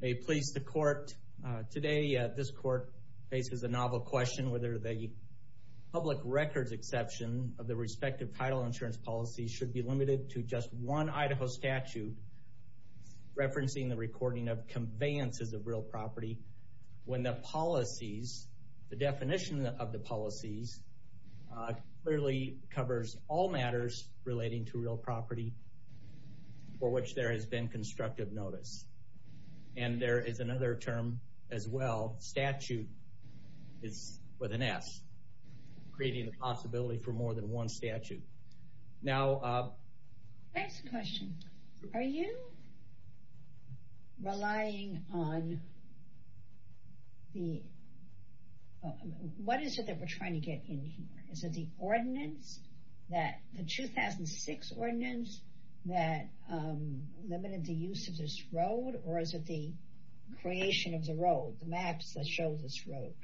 May it please the court, today this court faces a novel question whether the public records exception of the respective title insurance policies should be limited to just one Idaho statute, referencing the recording of conveyances of real property, when the policies, the definition of the policies, clearly covers all matters relating to real property for which there has been constructive notice. And there is another term as well, statute, with an S, creating the possibility for more than one statute. Next question, are you relying on the, what is it that we're trying to get in here? Is it the ordinance, the 2006 ordinance that limited the use of this road, or is it the creation of the road, the maps that show this road?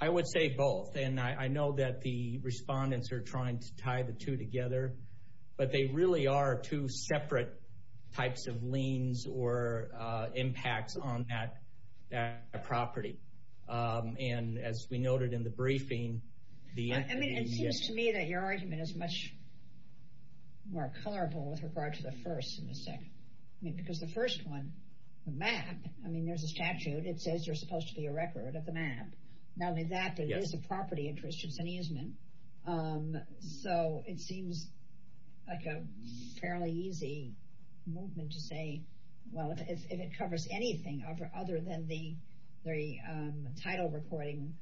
I would say both, and I know that the respondents are trying to tie the two together, but they really are two separate types of liens or impacts on that property. And as we noted in the briefing. I mean, it seems to me that your argument is much more colorful with regard to the first and the second. I mean, because the first one, the map, I mean, there's a statute, it says you're supposed to be a record of the map. Not only that, but it is a property interest, it's an easement. So it seems like a fairly easy movement to say, well, if it covers anything other than the title recording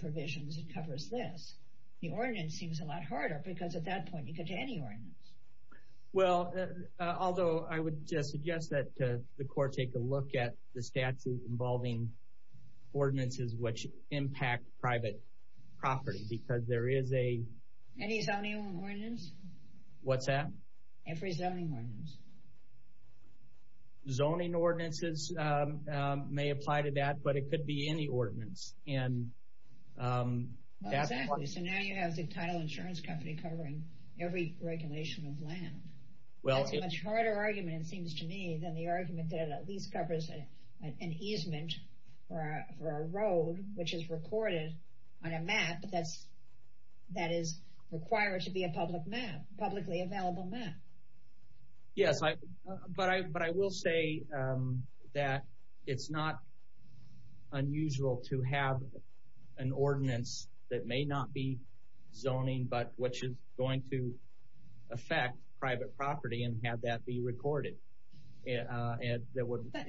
provisions, it covers this. The ordinance seems a lot harder, because at that point, you could do any ordinance. Well, although I would suggest that the court take a look at the statute involving ordinances which impact private property, because there is a... Any zoning ordinance? What's that? Every zoning ordinance. Zoning ordinances may apply to that, but it could be any ordinance. Exactly, so now you have the title insurance company covering every regulation of land. That's a much harder argument, it seems to me, than the argument that it at least covers an easement for a road which is recorded on a map that is required to be a publicly available map. Yes, but I will say that it's not unusual to have an ordinance that may not be zoning, but which is going to affect private property and have that be recorded. But I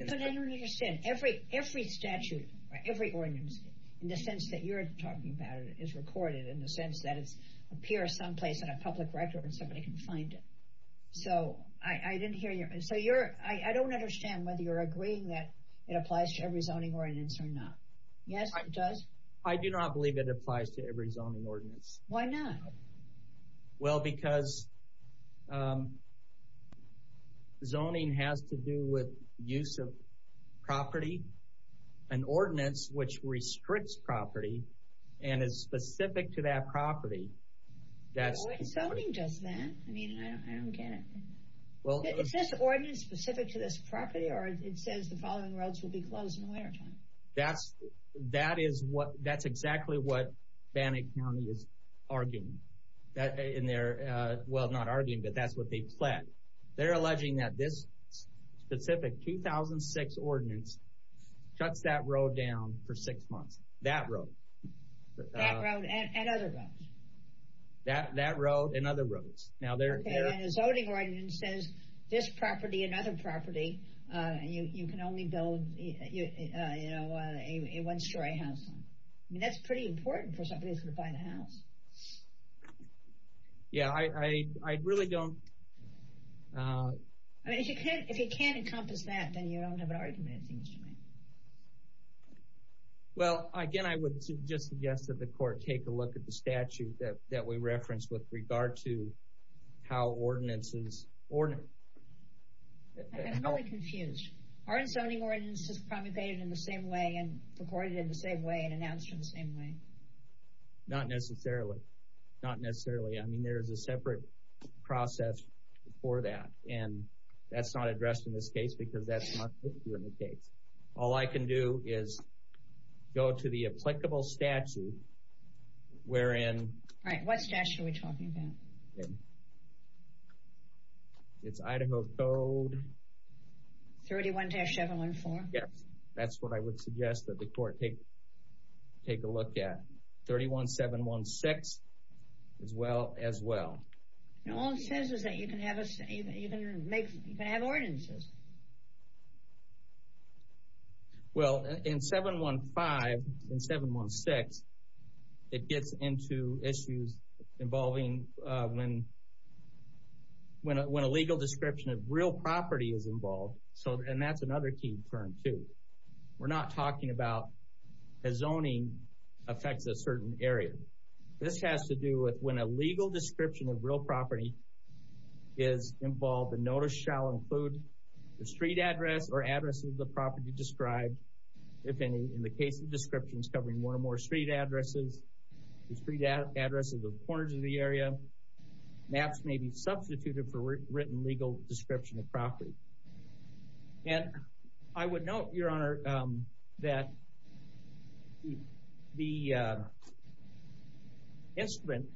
don't understand. Every statute, every ordinance, in the sense that you're talking about it, is recorded in the sense that it appears someplace on a public record and somebody can find it. So I don't understand whether you're agreeing that it applies to every zoning ordinance or not. Yes, it does? I do not believe it applies to every zoning ordinance. Why not? Well, because zoning has to do with use of property. An ordinance which restricts property and is specific to that property... What zoning does that? I mean, I don't get it. Is this ordinance specific to this property or it says the following roads will be closed in the wintertime? That's exactly what Bannock County is arguing. Well, not arguing, but that's what they plan. They're alleging that this specific 2006 ordinance shuts that road down for six months. That road. That road and other roads? That road and other roads. The zoning ordinance says this property, another property, you can only build a one-story house on. That's pretty important for somebody who's going to buy the house. Yeah, I really don't... If you can't encompass that, then you don't have an argument, it seems to me. Well, again, I would just suggest that the court take a look at the statute that we referenced with regard to how ordinances... I'm really confused. Aren't zoning ordinances promulgated in the same way and recorded in the same way and announced in the same way? Not necessarily. Not necessarily. I mean, there's a separate process for that. And that's not addressed in this case because that's not the case. All I can do is go to the applicable statute wherein... Right. What statute are we talking about? It's Idaho Code... 31-714? Yes. That's what I would suggest that the court take a look at. 31-716 as well. All it says is that you can have ordinances. All right. Well, in 715 and 716, it gets into issues involving when a legal description of real property is involved. And that's another key term, too. We're not talking about a zoning affects a certain area. This has to do with when a legal description of real property is involved. The notice shall include the street address or address of the property described. If any, in the case of descriptions covering one or more street addresses, the street address of the corners of the area. Maps may be substituted for written legal description of property. And I would note, Your Honor, that the instrument,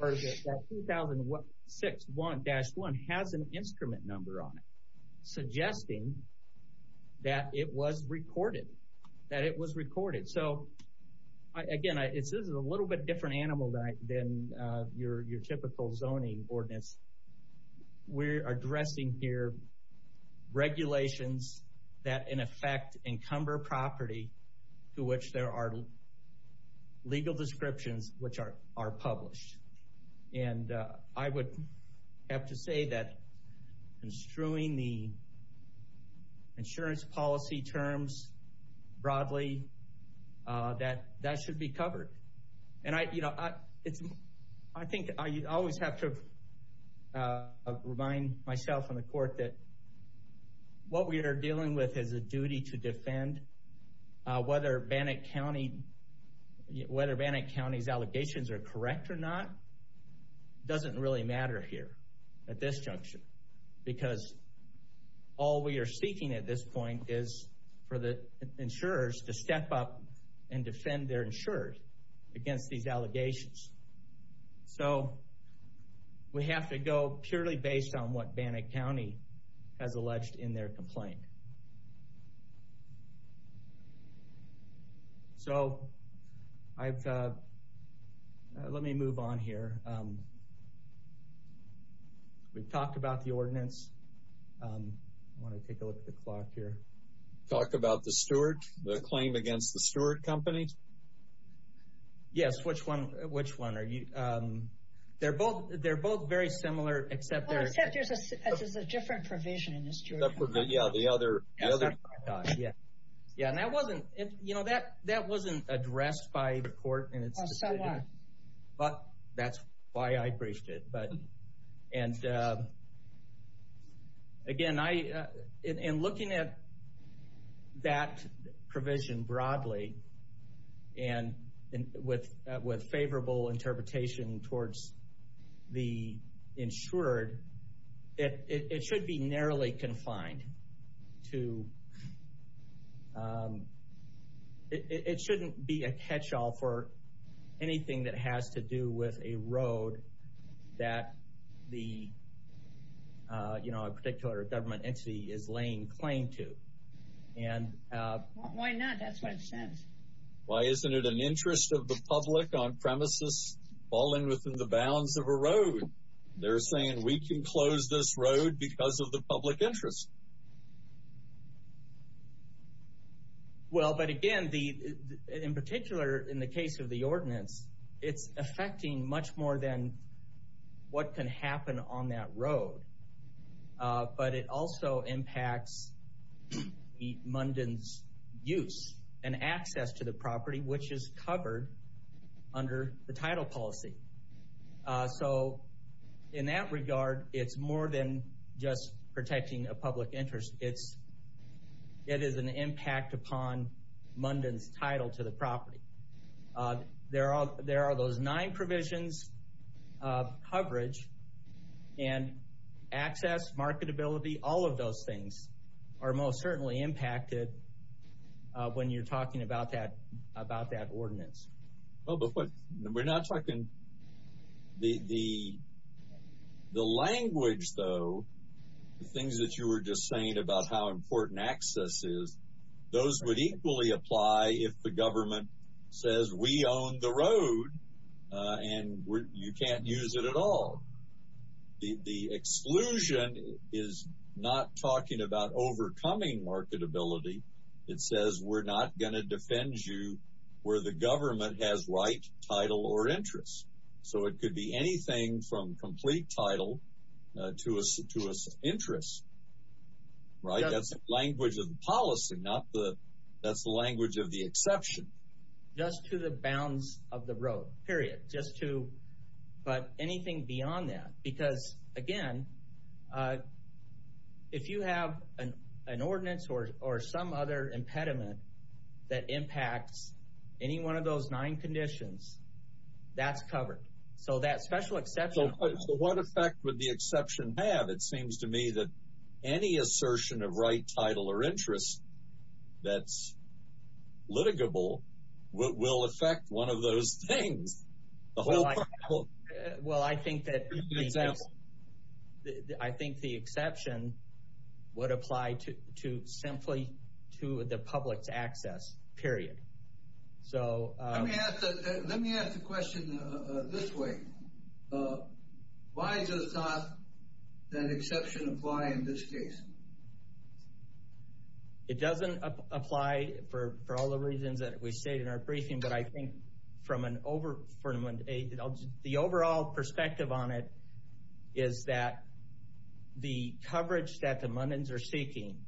that 2006-1-1 has an instrument number on it suggesting that it was recorded. That it was recorded. So, again, this is a little bit different animal than your typical zoning ordinance. We're addressing here regulations that, in effect, encumber property to which there are legal descriptions which are published. And I would have to say that construing the insurance policy terms broadly, that should be covered. And, you know, I think I always have to remind myself in the court that what we are dealing with is a duty to defend. Whether Bannock County's allegations are correct or not doesn't really matter here at this junction. Because all we are seeking at this point is for the insurers to step up and defend their insurers against these allegations. So, we have to go purely based on what Bannock County has alleged in their complaint. So, let me move on here. We've talked about the ordinance. I want to take a look at the clock here. Talked about the steward? The claim against the steward company? Yes, which one? They're both very similar, except there's a different provision in this jurisdiction. Yeah, the other. Yeah, and that wasn't addressed by the court. So what? That's why I briefed it. And, again, in looking at that provision broadly and with favorable interpretation towards the insured, it should be narrowly confined. It shouldn't be a catch-all for anything that has to do with a road that a particular government entity is laying claim to. Why not? That's what it says. Why isn't it an interest of the public on premises falling within the bounds of a road? They're saying, we can close this road because of the public interest. Well, but, again, in particular in the case of the ordinance, it's affecting much more than what can happen on that road. But it also impacts Munden's use and access to the property, which is covered under the title policy. So in that regard, it's more than just protecting a public interest. It is an impact upon Munden's title to the property. There are those nine provisions of coverage and access, marketability. All of those things are most certainly impacted when you're talking about that ordinance. Well, but we're not talking – the language, though, the things that you were just saying about how important access is, those would equally apply if the government says, we own the road, and you can't use it at all. The exclusion is not talking about overcoming marketability. It says, we're not going to defend you where the government has right, title, or interest. So it could be anything from complete title to an interest, right? That's the language of the policy, not the – that's the language of the exception. Just to the bounds of the road, period, just to – but anything beyond that. Because, again, if you have an ordinance or some other impediment that impacts any one of those nine conditions, that's covered. So that special exception – So what effect would the exception have? It seems to me that any assertion of right, title, or interest that's litigable will affect one of those things. Well, I think that – I think the exception would apply to simply to the public's access, period. Let me ask the question this way. Why does not that exception apply in this case? It doesn't apply for all the reasons that we state in our briefing. But I think from an – the overall perspective on it is that the coverage that the Mundins are seeking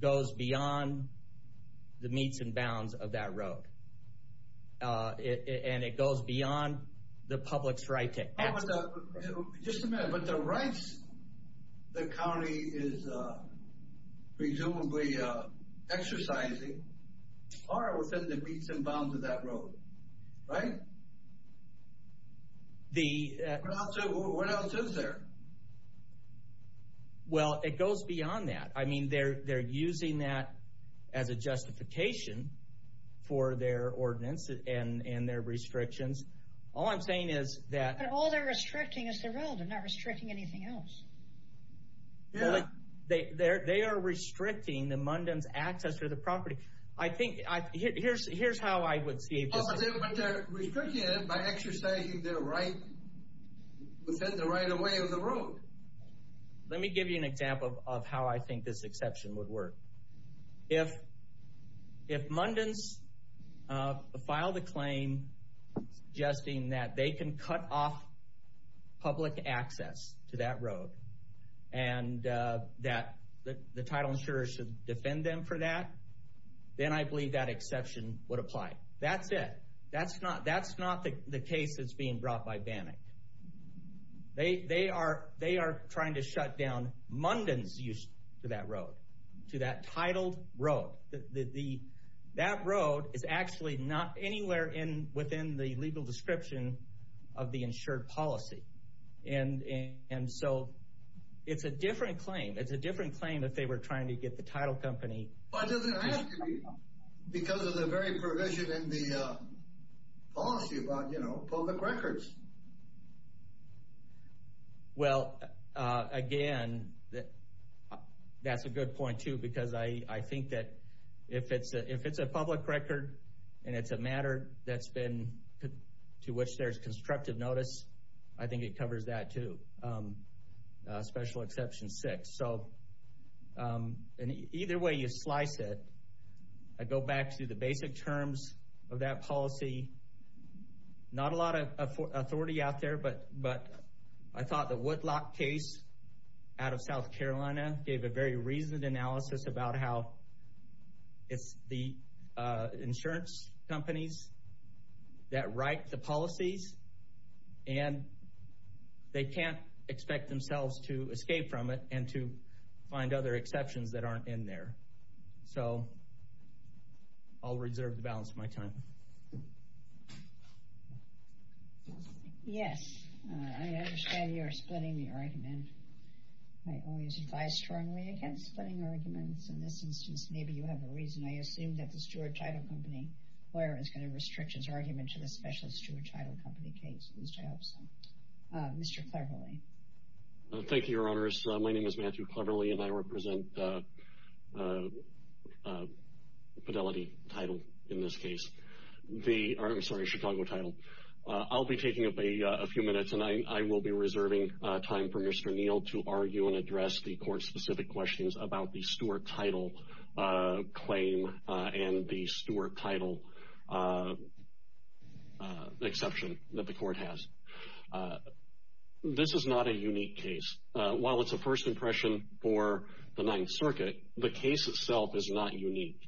goes beyond the meets and bounds of that road. And it goes beyond the public's right to access. Just a minute. But the rights the county is presumably exercising are within the meets and bounds of that road, right? The – What else is there? Well, it goes beyond that. I mean, they're using that as a justification for their ordinance and their restrictions. All I'm saying is that – But all they're restricting is the road. They're not restricting anything else. Yeah. They are restricting the Mundins' access to the property. I think – here's how I would see it. But they're restricting it by exercising their right within the right of way of the road. Let me give you an example of how I think this exception would work. If Mundins filed a claim suggesting that they can cut off public access to that road and that the title insurers should defend them for that, then I believe that exception would apply. That's it. That's not the case that's being brought by Bannock. They are trying to shut down Mundins' use to that road, to that titled road. That road is actually not anywhere within the legal description of the insured policy. And so it's a different claim. It's a different claim if they were trying to get the title company – Well, it doesn't have to be because of the very provision in the policy about public records. Well, again, that's a good point too because I think that if it's a public record and it's a matter that's been – to which there's constructive notice, I think it covers that too, special exception six. So either way you slice it, I go back to the basic terms of that policy. Not a lot of authority out there, but I thought the Woodlock case out of South Carolina gave a very reasoned analysis about how it's the insurance companies that write the policies. And they can't expect themselves to escape from it and to find other exceptions that aren't in there. So I'll reserve the balance of my time. Yes, I understand you're splitting the argument. I always advise strongly against splitting arguments. In this instance, maybe you have a reason. I assume that the steward title company lawyer is going to restrict his argument to the specialist steward title company case, which I hope so. Mr. Cleverley. Thank you, Your Honors. My name is Matthew Cleverley, and I represent Fidelity Title in this case. I'm sorry, Chicago Title. I'll be taking up a few minutes, and I will be reserving time for Mr. Neal to argue and address the court-specific questions about the steward title claim and the steward title exception that the court has. This is not a unique case. While it's a first impression for the Ninth Circuit, the case itself is not unique.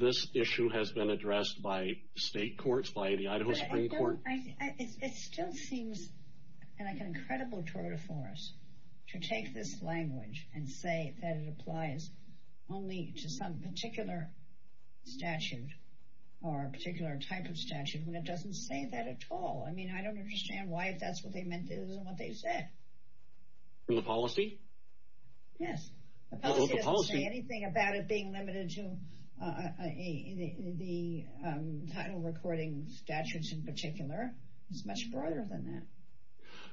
This issue has been addressed by state courts, by the Idaho Supreme Court. It still seems like an incredible tour de force to take this language and say that it applies only to some particular statute or a particular type of statute when it doesn't say that at all. I mean, I don't understand why, if that's what they meant, it isn't what they said. The policy? Yes. The policy doesn't say anything about it being limited to the title recording statutes in particular. It's much broader than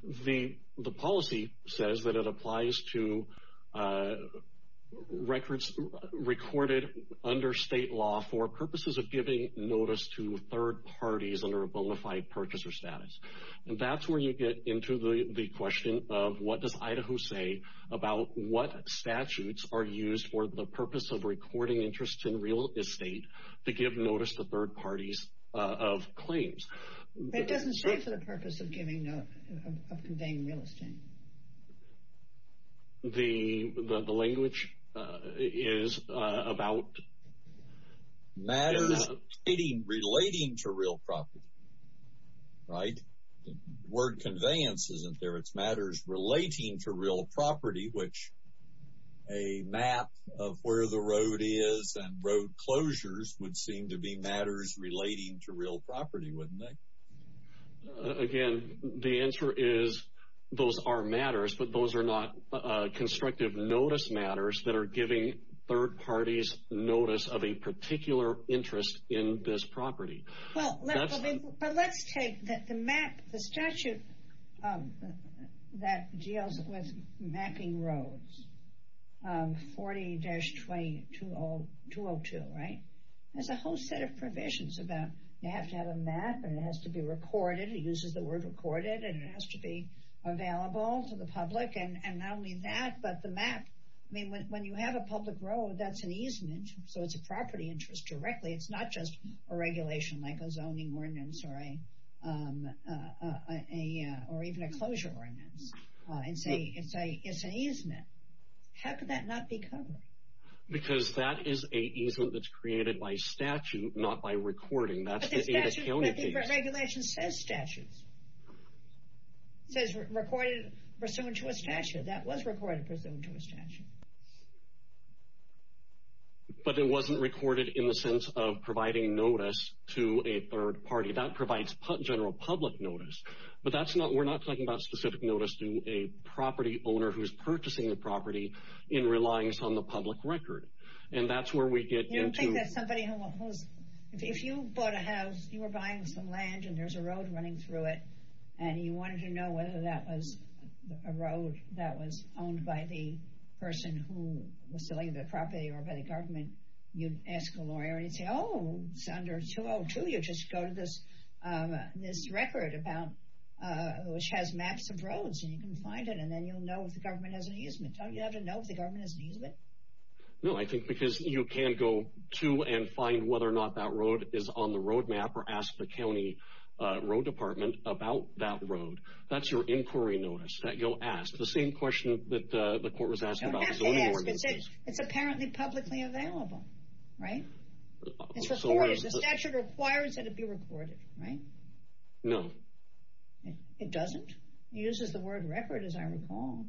that. The policy says that it applies to records recorded under state law for purposes of giving notice to third parties under a bona fide purchaser status. And that's where you get into the question of what does Idaho say about what statutes are used for the purpose of recording interest in real estate to give notice to third parties of claims. It doesn't say for the purpose of giving notice, of conveying real estate. The language is about... Relating to real property, right? Word conveyance isn't there. It's matters relating to real property, which a map of where the road is and road closures would seem to be matters relating to real property, wouldn't they? Again, the answer is those are matters, but those are not constructive notice matters that are giving third parties notice of a particular interest in this property. But let's take the statute that deals with mapping roads, 40-20202, right? There's a whole set of provisions about you have to have a map, and it has to be recorded. It uses the word recorded, and it has to be available to the public. And not only that, but the map... I mean, when you have a public road, that's an easement, so it's a property interest directly. It's not just a regulation like a zoning ordinance or even a closure ordinance. It's an easement. How could that not be covered? Because that is an easement that's created by statute, not by recording. But the regulation says statutes. It says recorded pursuant to a statute. That was recorded pursuant to a statute. But it wasn't recorded in the sense of providing notice to a third party. That provides general public notice. But we're not talking about specific notice to a property owner who's purchasing the property and relying on the public record. And that's where we get into... If you bought a house, you were buying some land, and there's a road running through it, and you wanted to know whether that was a road that was owned by the person who was selling the property or by the government, you'd ask a lawyer, and he'd say, Oh, under 202, you just go to this record which has maps of roads, and you can find it, and then you'll know if the government has an easement. Don't you have to know if the government has an easement? No, I think because you can go to and find whether or not that road is on the road map or ask the county road department about that road. That's your inquiry notice that you'll ask. The same question that the court was asking about the zoning ordinance. It's apparently publicly available, right? The statute requires that it be recorded, right? No. It doesn't? It uses the word record, as I recall.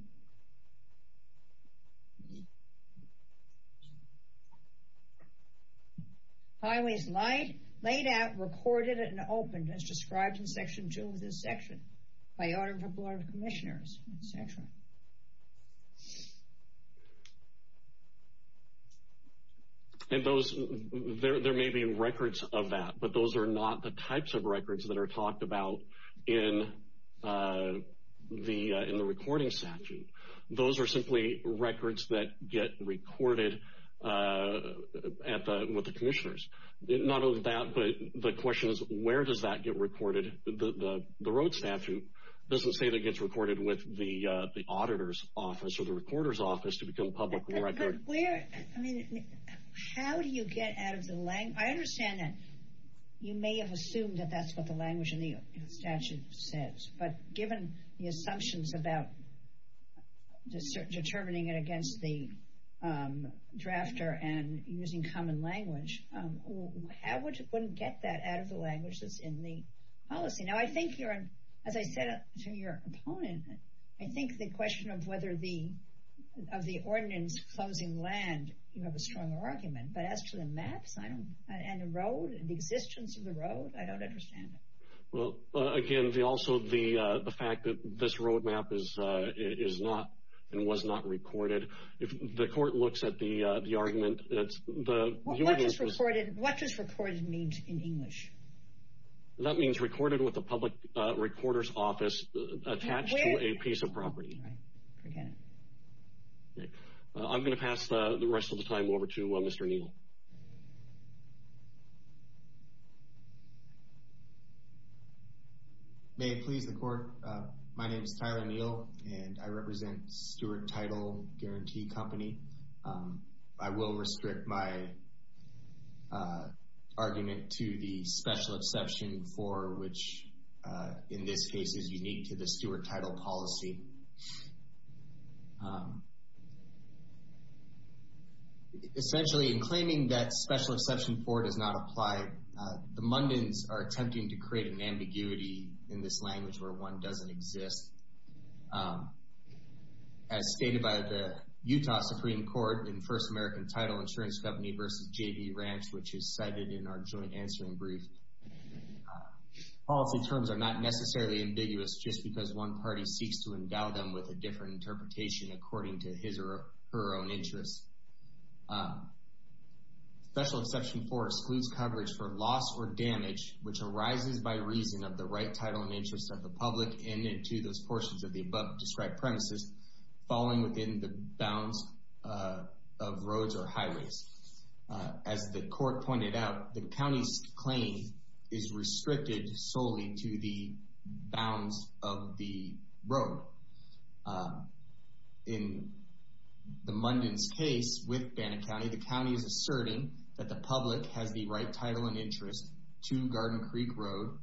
Highways laid out, recorded, and opened, as described in Section 2 of this section, by order of the Board of Commissioners, etc. And there may be records of that, but those are not the types of records that are talked about in the recording statute. Those are simply records that get recorded with the commissioners. Not only that, but the question is, where does that get recorded? The road statute doesn't say that it gets recorded with the auditor's office or the recorder's office to become public record. How do you get out of the language? I understand that you may have assumed that that's what the language in the statute says, but given the assumptions about determining it against the drafter and using common language, how would you get that out of the language that's in the policy? Now, I think, as I said to your opponent, I think the question of the ordinance closing land, you have a stronger argument, but as to the maps and the road, the existence of the road, I don't understand it. Well, again, also the fact that this road map is not and was not recorded. If the court looks at the argument... What does recorded mean in English? That means recorded with the public recorder's office attached to a piece of property. I'm going to pass the rest of the time over to Mr. Neal. May it please the court. My name is Tyler Neal, and I represent Stewart Title Guarantee Company. I will restrict my argument to the Special Exception 4, which in this case is unique to the Stewart Title policy. Essentially, in claiming that Special Exception 4 does not apply, the Mundins are attempting to create an ambiguity in this language where one doesn't exist. As stated by the Utah Supreme Court in First American Title Insurance Company v. J.B. Ranch, which is cited in our joint answering brief, policy terms are not necessarily ambiguous just because one party seeks to endow them with a different interpretation according to his or her own interests. Special Exception 4 excludes coverage for loss or damage, which arises by reason of the right title and interest of the public and into those portions of the above-described premises falling within the bounds of roads or highways. As the court pointed out, the county's claim is restricted solely to the bounds of the road. In the Mundins' case with Bannett County, the county is asserting that the public has the right title and interest to Garden Creek Road,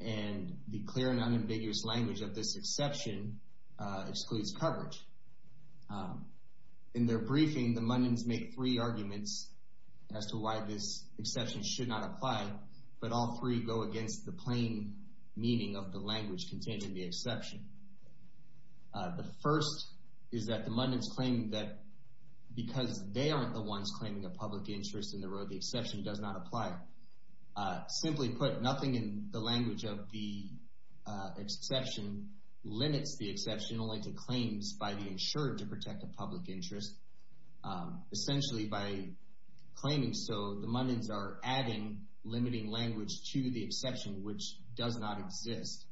and the clear and unambiguous language of this exception excludes coverage. In their briefing, the Mundins make three arguments as to why this exception should not apply, but all three go against the plain meaning of the language contained in the exception. The first is that the Mundins claim that because they aren't the ones claiming a public interest in the road, the exception does not apply. Simply put, nothing in the language of the exception limits the exception only to claims by the insured to protect a public interest. Essentially, by claiming so, the Mundins are adding limiting language to the exception, which does not exist.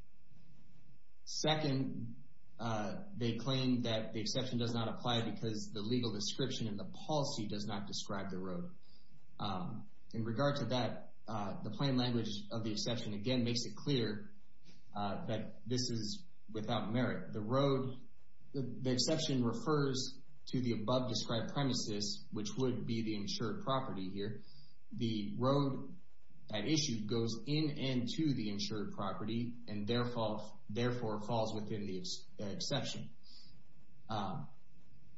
Second, they claim that the exception does not apply because the legal description and the policy does not describe the road. In regard to that, the plain language of the exception, again, makes it clear that this is without merit. The road, the exception refers to the above-described premises, which would be the insured property here. The road at issue goes in and to the insured property, and therefore falls within the exception.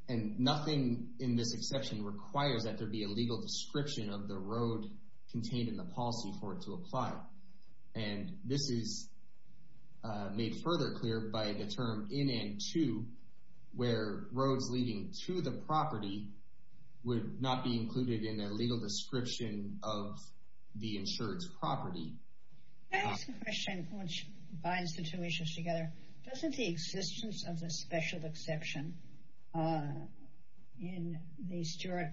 And nothing in this exception requires that there be a legal description of the road contained in the policy for it to apply. And this is made further clear by the term in and to, where roads leading to the property would not be included in a legal description of the insured's property. Can I ask a question which binds the two issues together? Doesn't the existence of the special exception in the Stewart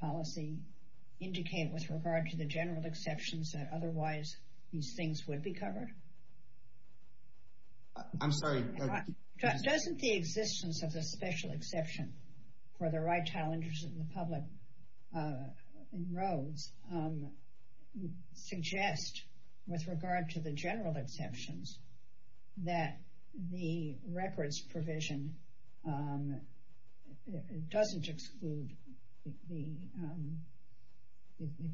policy indicate with regard to the general exceptions that otherwise these things would be covered? I'm sorry. Doesn't the existence of the special exception for the right to have an interest in the public in roads suggest with regard to the general exceptions that the records provision doesn't exclude the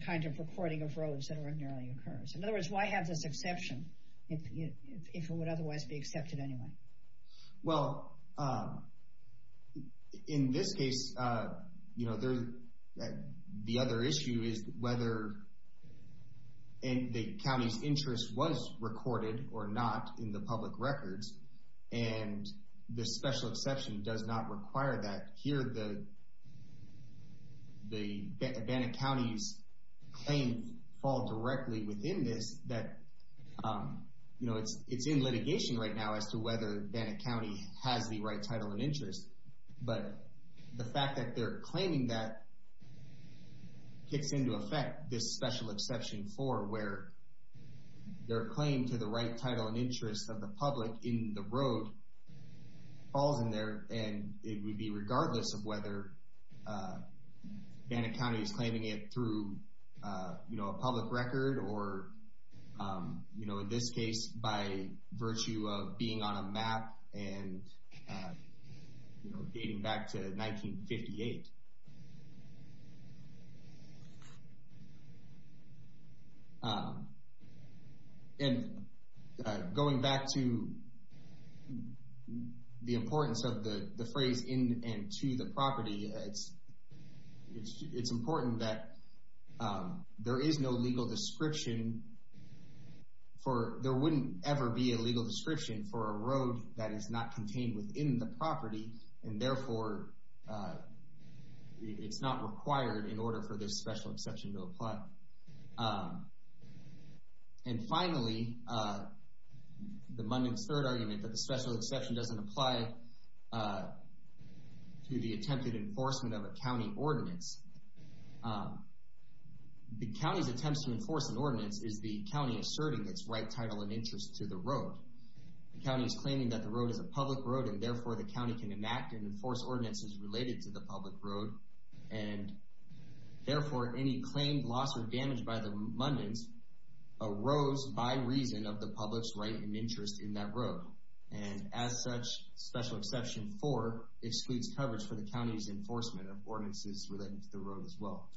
kind of reporting of roads that ordinarily occurs? In other words, why have this exception if it would otherwise be accepted anyway? Well, in this case, the other issue is whether the county's interest was recorded or not in the public records, and the special exception does not require that. Here, the Advantage County's claim falls directly within this. It's in litigation right now as to whether Advantage County has the right title and interest, but the fact that they're claiming that kicks into effect this special exception 4 where their claim to the right title and interest of the public in the road falls in there, and it would be regardless of whether Advantage County is claiming it through a public record or, in this case, by virtue of being on a map and dating back to 1958. And going back to the importance of the phrase, in and to the property, it's important that there is no legal description for, there wouldn't ever be a legal description for a road that is not contained within the property, and therefore it's not required in order for this special exception to apply. And finally, the mundane third argument that the special exception doesn't apply to the attempted enforcement of a county ordinance. The county's attempts to enforce an ordinance is the county asserting its right title and interest to the road. The county is claiming that the road is a public road, and therefore the county can enact and enforce ordinances related to the public road, and therefore any claimed loss or damage by the abundance arose by reason of the public's right and interest in that road. And as such, special exception 4 excludes coverage for the county's enforcement of ordinances related to the road as well.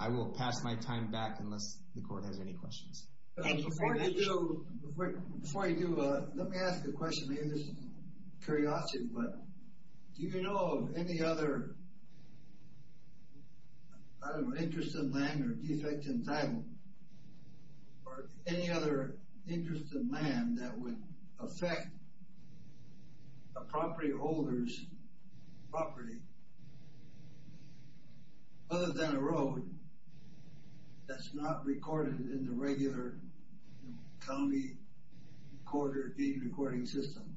I will pass my time back unless the court has any questions. Before I do, let me ask a question, maybe this is curiosity, but do you know of any other interest in land or defect in title, or any other interest in land that would affect a property holder's property other than a road that's not recorded in the regular county recorder, deed recording system?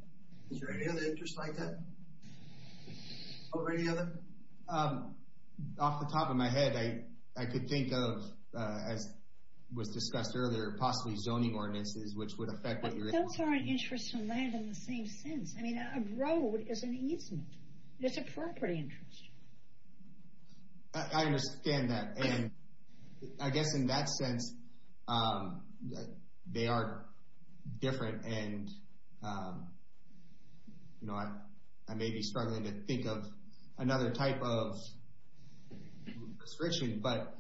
Is there any other interest like that? Or any other? Off the top of my head, I could think of, as was discussed earlier, possibly zoning ordinances which would affect what you're... Those aren't interests in land in the same sense. I mean, a road is an easement. It's a property interest. I understand that. And I guess in that sense, they are different, and I may be struggling to think of another type of prescription, but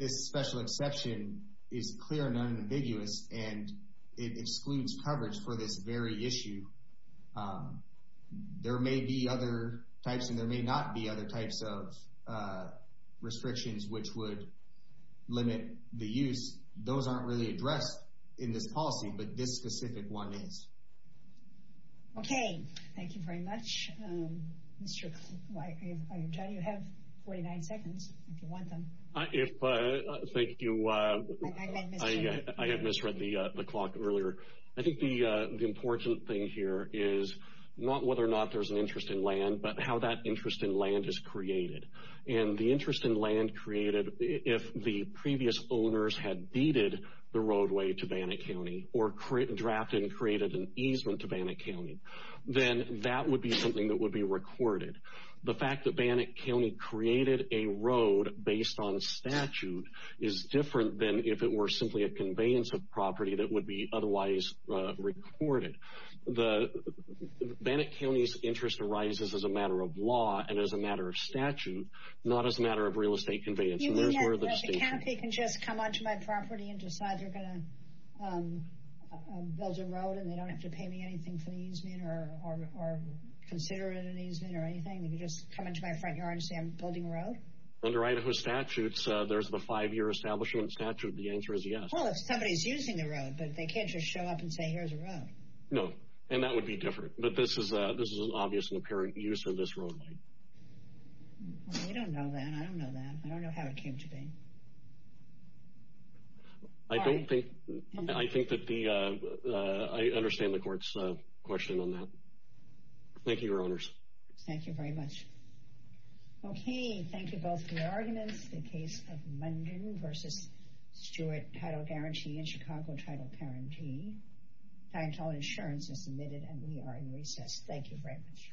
this special exception is clear and unambiguous, and it excludes coverage for this very issue. There may be other types, and there may not be other types of restrictions which would limit the use. Those aren't really addressed in this policy, but this specific one is. Okay. Thank you very much. John, you have 49 seconds if you want them. Thank you. I had misread the clock earlier. I think the important thing here is not whether or not there's an interest in land, but how that interest in land is created. And the interest in land created, if the previous owners had deeded the roadway to Bannock County or drafted and created an easement to Bannock County, then that would be something that would be recorded. The fact that Bannock County created a road based on statute is different than if it were simply a conveyance of property that would be otherwise recorded. Bannock County's interest arises as a matter of law and as a matter of statute, not as a matter of real estate conveyance. You mean that the county can just come onto my property and decide they're going to build a road and they don't have to pay me anything for the easement or consider it an easement or anything? They can just come into my front yard and say I'm building a road? Under Idaho statutes, there's the five-year establishment statute. The answer is yes. Well, if somebody's using the road, but they can't just show up and say here's a road. No, and that would be different. But this is an obvious and apparent use of this roadway. Well, you don't know that. I don't know that. I don't know how it came to be. I don't think, I think that the, I understand the court's question on that. Thank you, Your Honors. Thank you very much. Okay, thank you both for your arguments. The case of Munden v. Stewart Paddle Guarantee and Chicago Tidal Parentee. Financial insurance is submitted and we are in recess. Thank you very much.